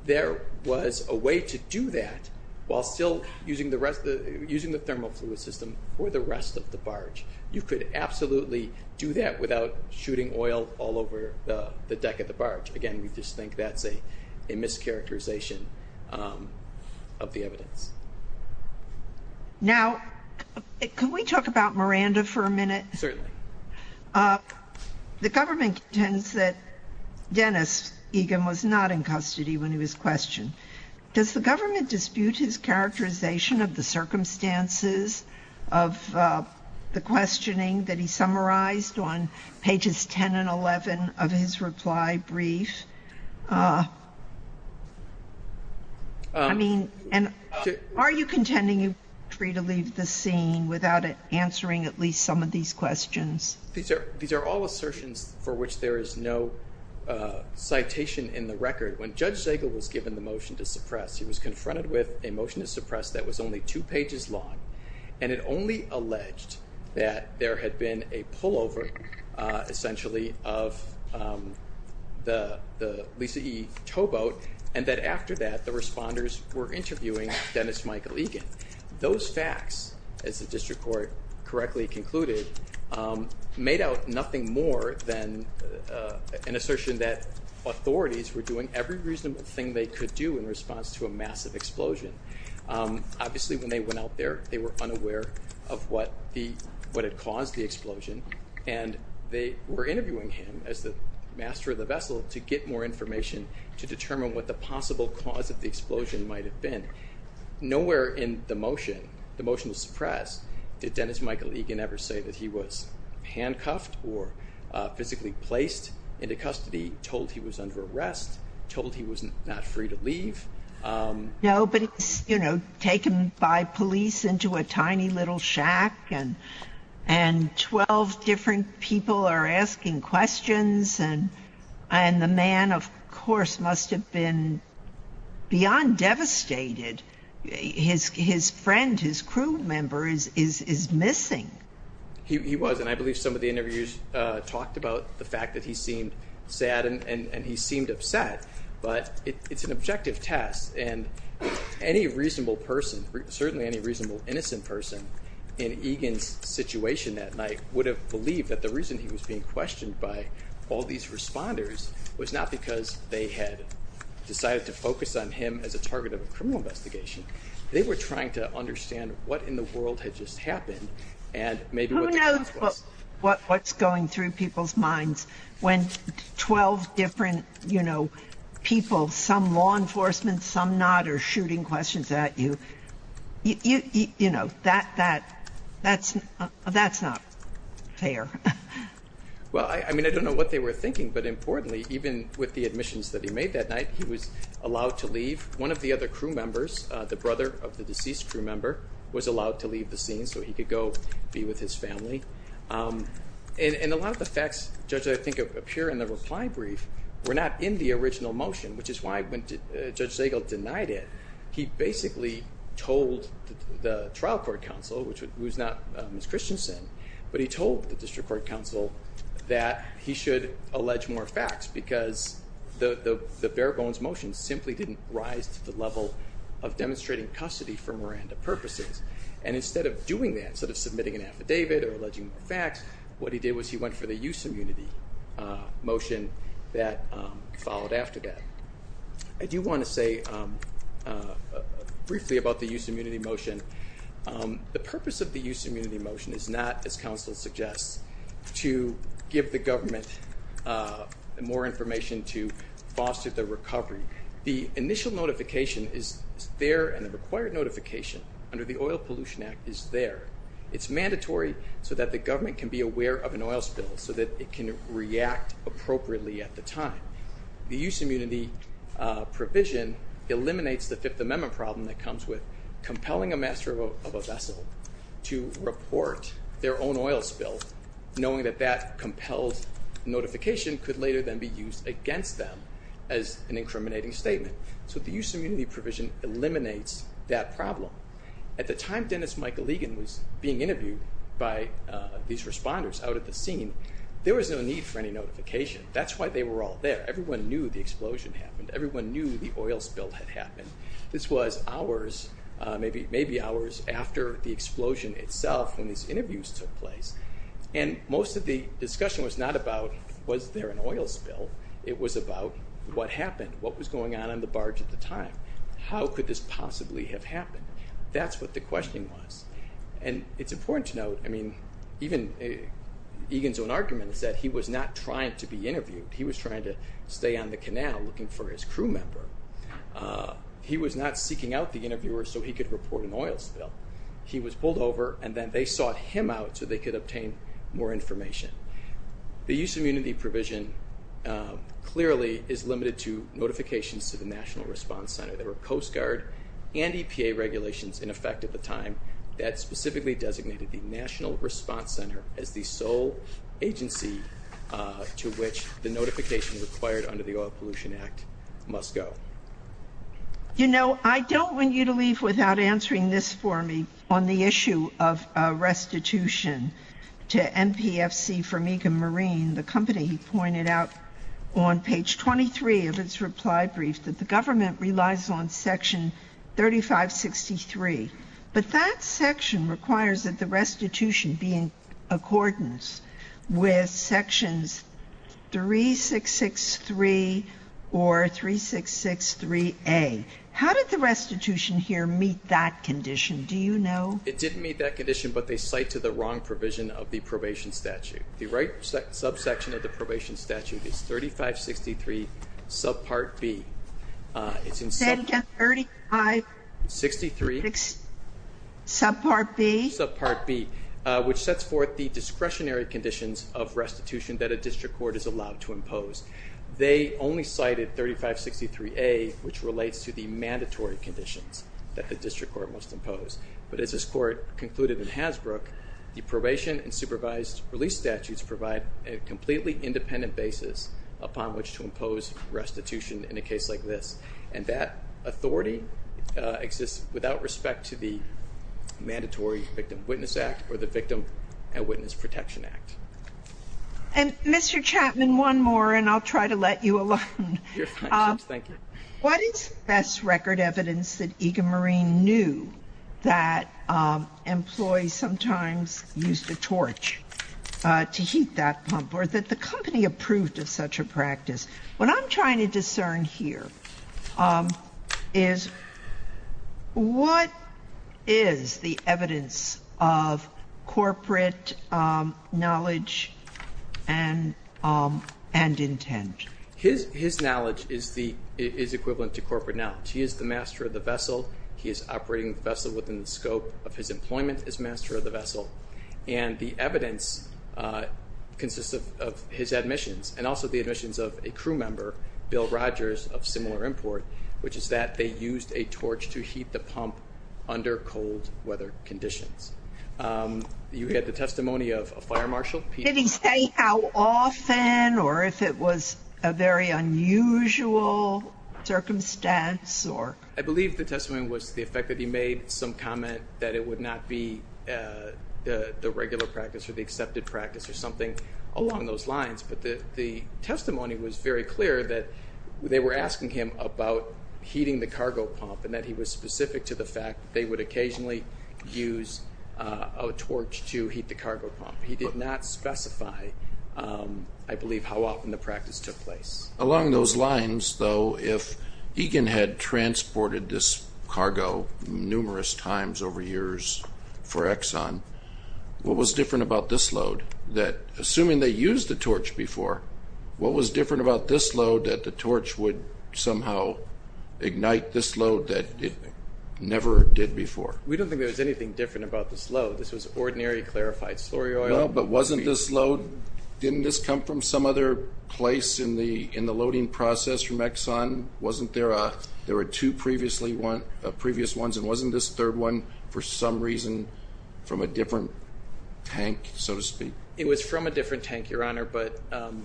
there was a way to do that while still using the rest... Using the thermal fluid system for the rest of the barge. You could absolutely do that without shooting oil all over the deck of the barge. Again, we just think that's a mischaracterization of the evidence. Now, can we talk about Miranda for a minute? Certainly. The government contends that Dennis Egan was not in custody when he was questioned. Does the government dispute his characterization of the circumstances of the questioning that he summarized on pages 10 and 11 of his reply brief? Are you contending you were free to leave the scene without answering at least some of these questions? These are all assertions for which there is no citation in the record. When Judge Zegel was given the motion to suppress, he was confronted with a motion to suppress that was only two pages long, and it only alleged that there had been a explosion of the Lisa E. Tow Boat, and that after that, the responders were interviewing Dennis Michael Egan. Those facts, as the District Court correctly concluded, made out nothing more than an assertion that authorities were doing every reasonable thing they could do in response to a massive explosion. Obviously, when they went out there, they were unaware of what had caused the explosion, and they were interviewing him as the master of the vessel to get more information to determine what the possible cause of the explosion might have been. Nowhere in the motion, the motion to suppress, did Dennis Michael Egan ever say that he was handcuffed or physically placed into custody, told he was under arrest, told he was not free to leave. No, but it's taken by police into a tiny little shack, and 12 different people are asking questions, and the man, of course, must have been beyond devastated. His friend, his crew member, is missing. He was, and I believe some of the interviews talked about the fact that he seemed sad and he seemed upset, but it's an objective test, and any reasonable person, certainly any reasonable innocent person, in Egan's situation that night would have believed that the reason he was being questioned by all these responders was not because they had decided to focus on him as a target of a criminal investigation. They were trying to understand what in the world had just happened, and maybe what the cause was. Who knows what's going through people's minds when 12 different people, some law enforcement, some not, are shooting questions at you. That's not fair. Well, I mean, I don't know what they were thinking, but importantly, even with the admissions that he made that night, he was allowed to leave. One of the other crew members, the brother of the deceased crew member, was allowed to leave the scene so he could go be with his family. And a lot of the facts, Judge, I think appear in the reply brief were not in the original motion, which is why when Judge Zagel denied it, he basically told the trial court counsel, which was not Ms. Christensen, but he told the district court counsel that he should allege more facts because the bare bones motion simply didn't rise to the level of demonstrating custody for Miranda purposes. And instead of doing that, instead of submitting an affidavit or alleging the facts, what he did was he went for the use immunity motion that followed after that. I do wanna say briefly about the use immunity motion. The purpose of the use immunity motion is not, as counsel suggests, to give the government more information to foster the recovery. The initial notification is there and the required notification under the Oil Pollution Act is there. It's mandatory so that the government can be aware of an oil spill so that it can react appropriately at the time. The use immunity provision eliminates the Fifth Amendment problem that comes with compelling a master of a vessel to report their own oil spill, knowing that that compelled notification could later then be used against them as an incriminating statement. So the use immunity provision eliminates that problem. At the time, Dennis Michael Egan was being interviewed by these responders out at the scene, there was no need for any notification. That's why they were all there. Everyone knew the explosion happened. Everyone knew the oil spill had happened. This was hours, maybe hours after the explosion itself when these interviews took place. And most of the discussion was not about, was there an oil spill? It was about what happened, what was going on on the barge at the time. How could this possibly have happened? That's what the question was. And it's important to note, even Egan's own argument is that he was not trying to be interviewed. He was trying to stay on the canal looking for his crew member. He was not seeking out the interviewer so he could report an oil spill. He was pulled over and then they sought him out so they could obtain more information. The use immunity provision clearly is limited to notifications to the National Response Center. There were Coast Guard and EPA regulations in effect at the time that specifically designated the National Response Center as the sole agency to which the notification required under the Oil Pollution Act must go. I don't want you to leave without answering this for me on the issue of restitution to NPFC for Megan Marine, the company he pointed out on page 23 of its reply brief that the government relies on but that section requires that the restitution be in accordance with sections 3663 or 3663A. How did the restitution here meet that condition? Do you know? It didn't meet that condition, but they cite to the wrong provision of the probation statute. The right subsection of the probation statute is 3563 subpart B. It's in subpart B. Say it again. 3563. Subpart B. Subpart B, which sets forth the discretionary conditions of restitution that a district court is allowed to impose. They only cited 3563A, which relates to the mandatory conditions that the district court must impose. But as this court concluded in Hasbrook, the probation and supervised release statutes provide a completely independent basis upon which to impose restitution in a case like this. And that authority exists without respect to the Mandatory Victim Witness Act or the Victim and Witness Protection Act. And Mr. Chapman, one more, and I'll try to let you alone. You're fine, thanks. Thank you. What is the best record evidence that Egan Marine knew that employees sometimes used a torch to heat that pump or that the company approved of such a practice? What I'm trying to discern here is what is the evidence of corporate knowledge and intent? His knowledge is equivalent to corporate knowledge. He is the master of the vessel. He is operating the vessel within the scope of his employment as master of the vessel. And the evidence consists of his admissions and also the admissions of a crew member, Bill Rogers, of similar import, which is that they used a torch to heat the pump under cold weather conditions. You had the testimony of a fire marshal. Did he say how often or if it was a very unusual circumstance? I believe the testimony was the effect that he made some comment that it would not be the regular practice or the accepted practice or something along those lines. But the testimony was very clear that they were asking him about heating the cargo pump and that he was specific to the fact they would occasionally use a torch to heat the cargo pump. He did not specify, I believe, how often the practice took place. Along those lines, though, if Egan had transported this cargo numerous times over years for Exxon, what was different about this load that, assuming they used the torch before, what was different about this load that the torch would somehow ignite this load that it never did before? We don't think there was anything different about this load. This was ordinary clarified slurry oil. No, but wasn't this load, didn't this come from some other place in the in the loading process from Exxon? Wasn't there a, there were two previously one, previous ones, and wasn't this third one for some reason from a different tank, so to speak? It was from a different tank, Your Honor, but... From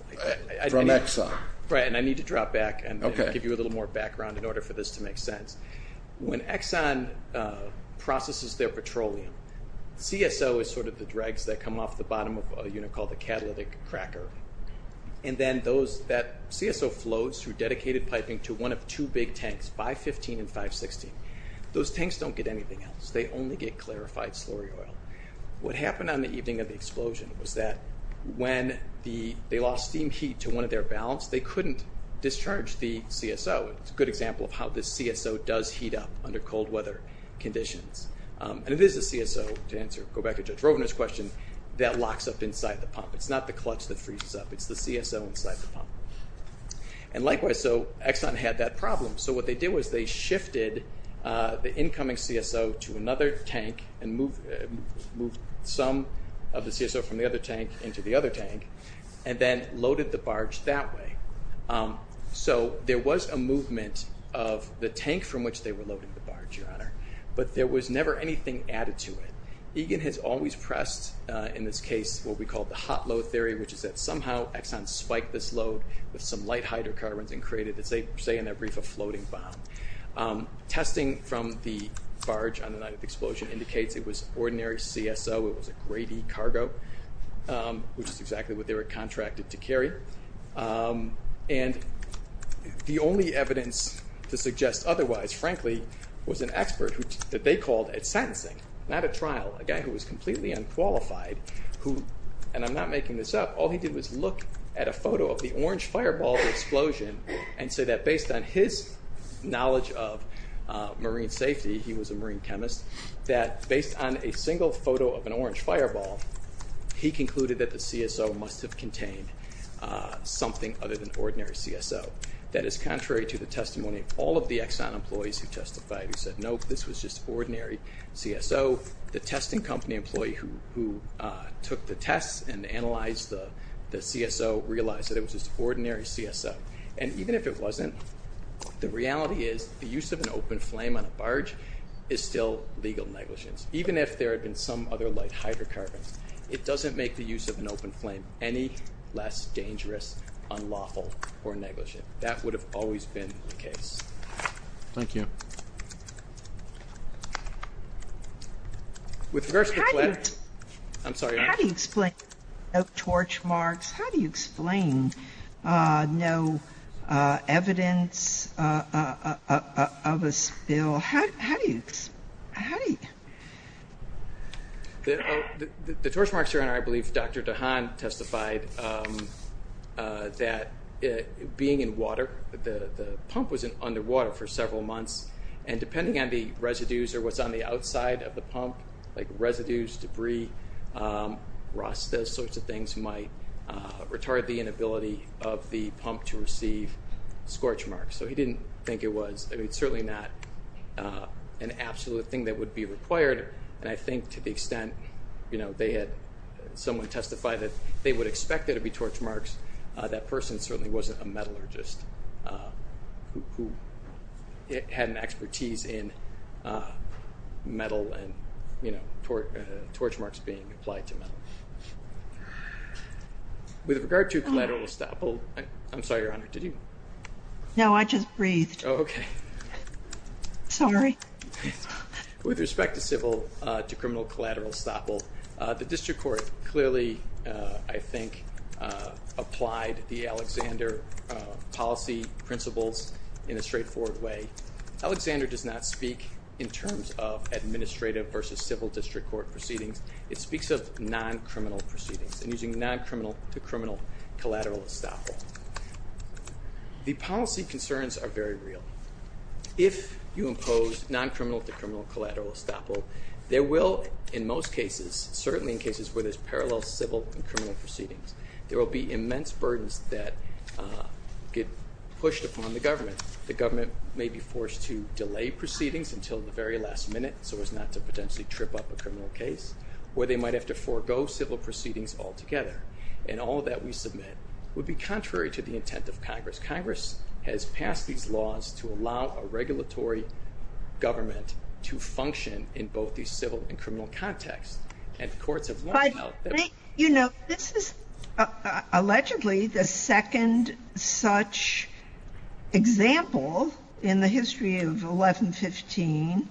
Exxon. Right, and I need to drop back and give you a little more background in order for this to make sense. When Exxon processes their petroleum, CSO is sort of the dregs that come off the bottom of a unit called the catalytic cracker, and then those, that CSO flows through dedicated piping to one of two big tanks, 515 and 516. Those tanks don't get anything else. They only get clarified slurry oil. What happened on the evening of the explosion was that when the, they lost steam heat to one of their valves, they couldn't discharge the CSO. It's a good example of how this CSO does heat up under cold weather conditions, and it is a CSO to answer, go back to Judge Rovner's question, that locks up inside the pump. It's not the clutch that freezes up, it's the CSO inside the pump. And likewise, so Exxon had that problem. So what they did was they shifted the incoming CSO to another tank and moved some of the CSO from the other tank into the other tank, and then loaded the barge that way. So there was a movement of the tank from which they were loading the barge, Your Honor, but there was never anything added to it. Egan has always pressed, in this case, what we call the hot load theory, which is that somehow Exxon spiked this load with some light hydrocarbons and created this, they say in their brief, a floating bomb. Testing from the barge on the night of the explosion indicates it was ordinary CSO, it was a grade-E cargo, which is exactly what they were contracted to carry. And the only evidence to suggest otherwise, frankly, was an expert that they called at sentencing, not at trial, a guy who was completely unqualified, who, and I'm not making this up, all he did was look at a photo of the orange fireball explosion and say that based on his knowledge of marine safety, he was a marine chemist, that based on a single photo of an orange fireball, he concluded that the CSO must have contained something other than ordinary CSO. That is contrary to the testimony of all of the Exxon employees who testified, who said, nope, this was just ordinary CSO. The tests and analyzed the CSO realized that it was just ordinary CSO. And even if it wasn't, the reality is the use of an open flame on a barge is still legal negligence. Even if there had been some other light hydrocarbons, it doesn't make the use of an open flame any less dangerous, unlawful, or negligent. That would have always been the case. Thank you. With regards to the pledge, I'm sorry. How do you explain no torch marks? How do you explain no evidence of a spill? How do you, how do you? The torch marks here, I believe Dr. Hahn testified that being in water, the pump was in underwater for several months, and depending on the residues or what's on the outside of the pump, like residues, debris, rust, those sorts of things might retard the inability of the pump to receive scorch marks. So he didn't think it was, I mean it's certainly not an absolute thing that would be required, and I think to the extent, you testify that they would expect there to be torch marks, that person certainly wasn't a metallurgist who had an expertise in metal and, you know, torch marks being applied to metal. With regard to collateral estoppel, I'm sorry, Your Honor, did you? No, I just breathed. Okay. Sorry. With respect to civil to collateral estoppel, I think applied the Alexander policy principles in a straightforward way. Alexander does not speak in terms of administrative versus civil district court proceedings. It speaks of non- criminal proceedings and using non-criminal to criminal collateral estoppel. The policy concerns are very real. If you impose non-criminal to criminal collateral estoppel, there will, in most cases, certainly in cases where there's parallel civil and criminal proceedings, there will be immense burdens that get pushed upon the government. The government may be forced to delay proceedings until the very last minute so as not to potentially trip up a criminal case, or they might have to forego civil proceedings altogether, and all that we submit would be contrary to the intent of Congress. Congress has passed these laws to allow a regulatory government to function in both the civil and criminal context. You know, this is allegedly the second such example in the history of 1115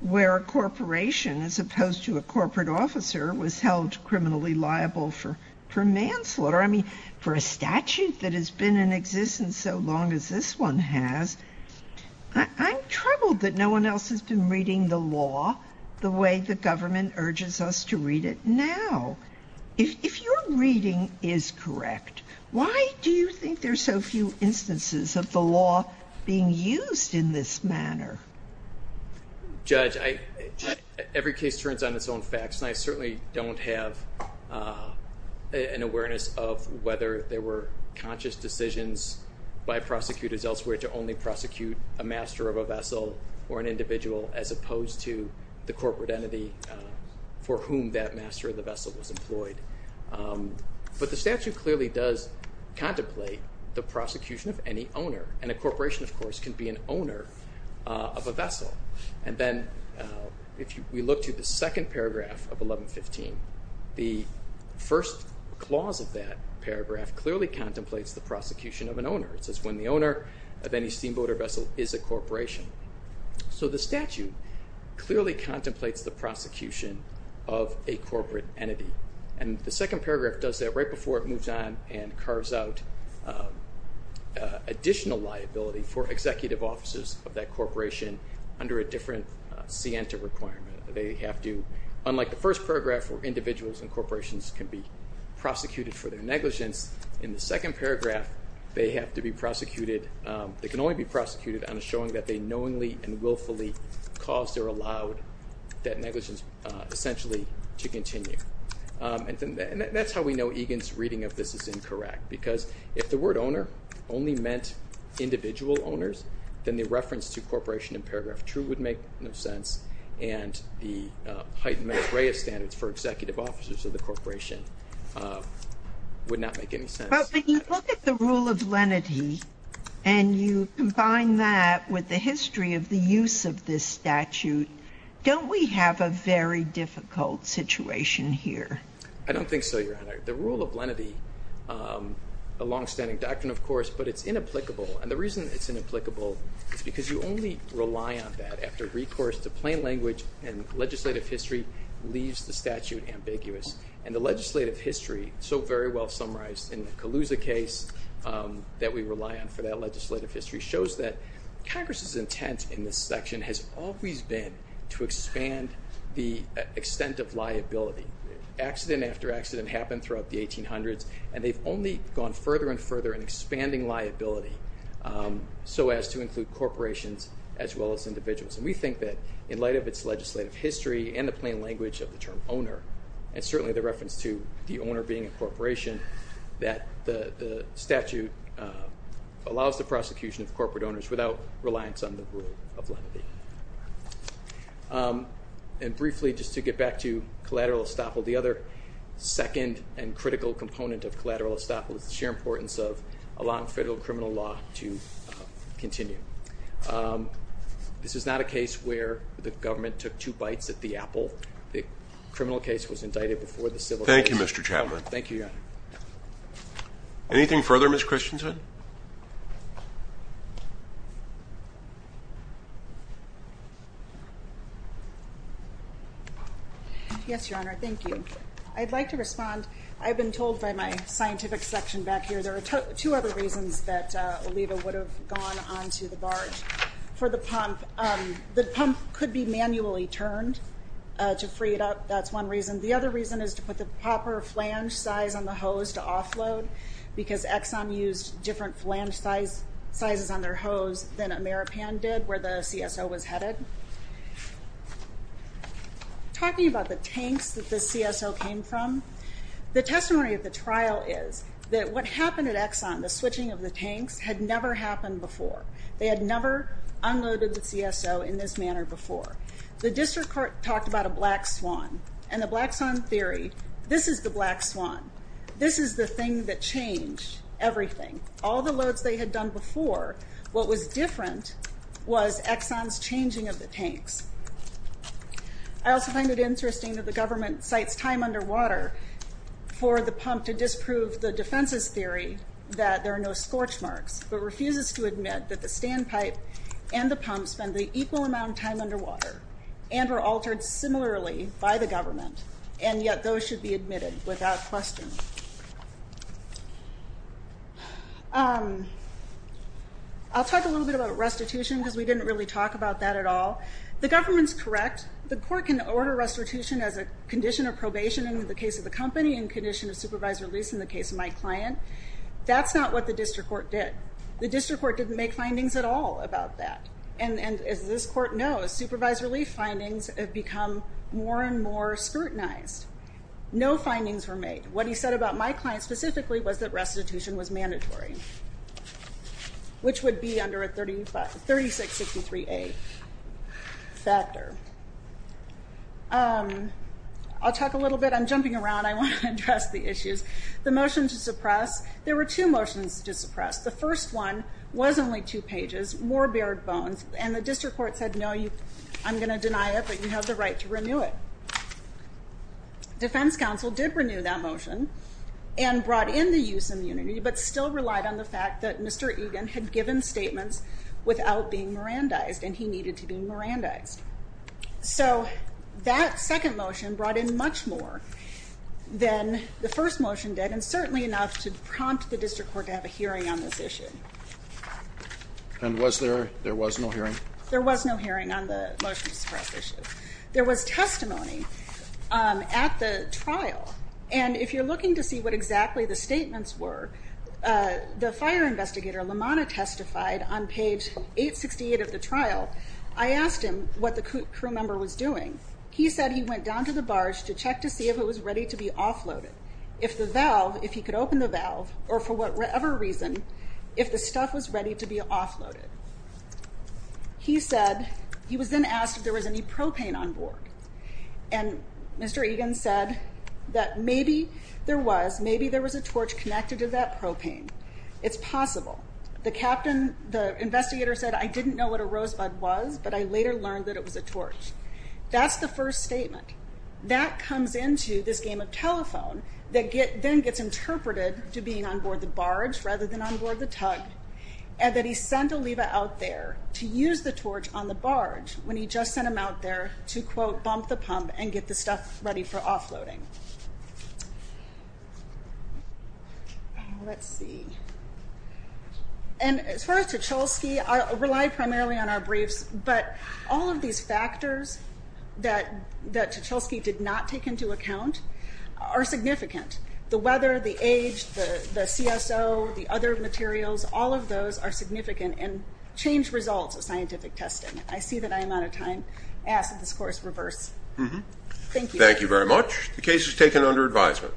where a corporation, as opposed to a corporate officer, was held criminally liable for manslaughter. I mean, for a statute that has been in existence so long as this one has, I'm troubled that no one else has been reading the law the way the government urges us to read it now. If your reading is correct, why do you think there's so few instances of the law being used in this manner? Judge, every case turns on its own facts, and I certainly don't have an awareness of whether there were conscious decisions by prosecutors elsewhere to only prosecute a master of a vessel or an individual as opposed to the corporate entity for whom that master of the vessel was employed, but the statute clearly does contemplate the prosecution of any owner, and a corporation, of course, can be an owner of a vessel, and then if we look to the second paragraph of 1115, the first clause of that paragraph clearly contemplates the prosecution of an owner. It says when the owner of any steamboater vessel is a corporation. So the statute clearly contemplates the prosecution of a corporate entity, and the second paragraph does that right before it moves on and carves out additional liability for executive officers of that corporation under a different sienta requirement. They have to, unlike the first paragraph where individuals and corporations can be second paragraph, they have to be prosecuted, they can only be prosecuted on a showing that they knowingly and willfully caused or allowed that negligence essentially to continue, and that's how we know Egan's reading of this is incorrect, because if the word owner only meant individual owners, then the reference to corporation in paragraph true would make no sense, and the heightened matreya standards for executive officers of the corporation would not make any sense. But when you look at the rule of lenity and you combine that with the history of the use of this statute, don't we have a very difficult situation here? I don't think so, Your Honor. The rule of lenity, a long-standing doctrine of course, but it's inapplicable, and the reason it's inapplicable is because you only rely on that after recourse to plain language and legislative history leaves the statute ambiguous, and the legislative history, so very well summarized in the Calusa case that we rely on for that legislative history, shows that Congress's intent in this section has always been to expand the extent of liability. Accident after accident happened throughout the 1800s, and they've only gone further and further in expanding liability so as to include corporations as well as individuals, and we think that in light of its legislative history and the plain language of the term owner, and certainly the reference to the owner being a corporation, that the statute allows the prosecution of corporate owners without reliance on the rule of lenity. And briefly, just to get back to collateral estoppel, the other second and critical component of collateral estoppel is the sheer importance of allowing federal criminal law to continue. This is not a case where the government took two bites at the apple. The criminal case was indicted before the civil case. Thank you, Mr. Chapman. Thank you, Your Honor. Anything further, Ms. Christensen? Yes, Your Honor, thank you. I'd like to respond. I've been told by my scientific section back here, there are two other reasons that Oliva would have gone on to the barge. For the pump, the pump could be manually turned to free it up. That's one reason. The other reason is to put the proper flange size on the hose to offload, because Exxon used different flange sizes on their hose than Ameripan did, where the CSO was headed. Talking about the tanks that the CSO came from, the testimony of the trial is that what happened at Exxon, the switching of the tanks, had never happened before. They had never unloaded the CSO in this manner before. The district court talked about a black swan, and the Black Swan Theory, this is the black swan. This is the thing that changed everything. All the loads they had done before, what was different was Exxon's changing of the tanks. I also find it interesting that the government cites time underwater for the pump to disprove the defense's theory that there are no scorch marks, but refuses to admit that the standpipe and the pump spend the equal amount of time underwater, and were altered similarly by the government, and yet those should be admitted without question. I'll talk a little bit about restitution, because we didn't really talk about that at all. The government's correct. The court can order restitution as a condition of probation in the case of the company, and condition of supervised release in the case of my client. That's not what the district court did. The district court didn't make findings at all about that, and as this court knows, supervised relief findings have become more and more scrutinized. No findings were made. What he said about my client specifically was that restitution was mandatory, which would be under a 3663A factor. I'll talk a little bit. I'm jumping around. I want to address the issues. The motion to suppress, there were two motions to suppress. The first one was only two pages, more bare bones, and the district court said, no, I'm gonna deny it, but you have the right to renew that motion, and brought in the use of immunity, but still relied on the fact that Mr. Egan had given statements without being Mirandized, and he needed to be Mirandized. So that second motion brought in much more than the first motion did, and certainly enough to prompt the district court to have a hearing on this issue. And was there, there was no hearing? There was no trial, and if you're looking to see what exactly the statements were, the fire investigator Lamana testified on page 868 of the trial. I asked him what the crew member was doing. He said he went down to the barge to check to see if it was ready to be offloaded. If the valve, if he could open the valve, or for whatever reason, if the stuff was ready to be offloaded. He said, he was then said that maybe there was, maybe there was a torch connected to that propane. It's possible. The captain, the investigator said, I didn't know what a rosebud was, but I later learned that it was a torch. That's the first statement. That comes into this game of telephone that then gets interpreted to being on board the barge, rather than on board the tug, and that he sent Oliva out there to use the torch on the barge, when he just sent him out there to quote, bump the pump and get the stuff ready for offloading. Let's see, and as far as Tchelsky, I rely primarily on our briefs, but all of these factors that Tchelsky did not take into account are significant. The weather, the age, the CSO, the other materials, all of those are significant and change results of scientific testing. I see that I am out of time. I asked that this course reverse. Thank you. Thank you very much. The case is taken under advisement.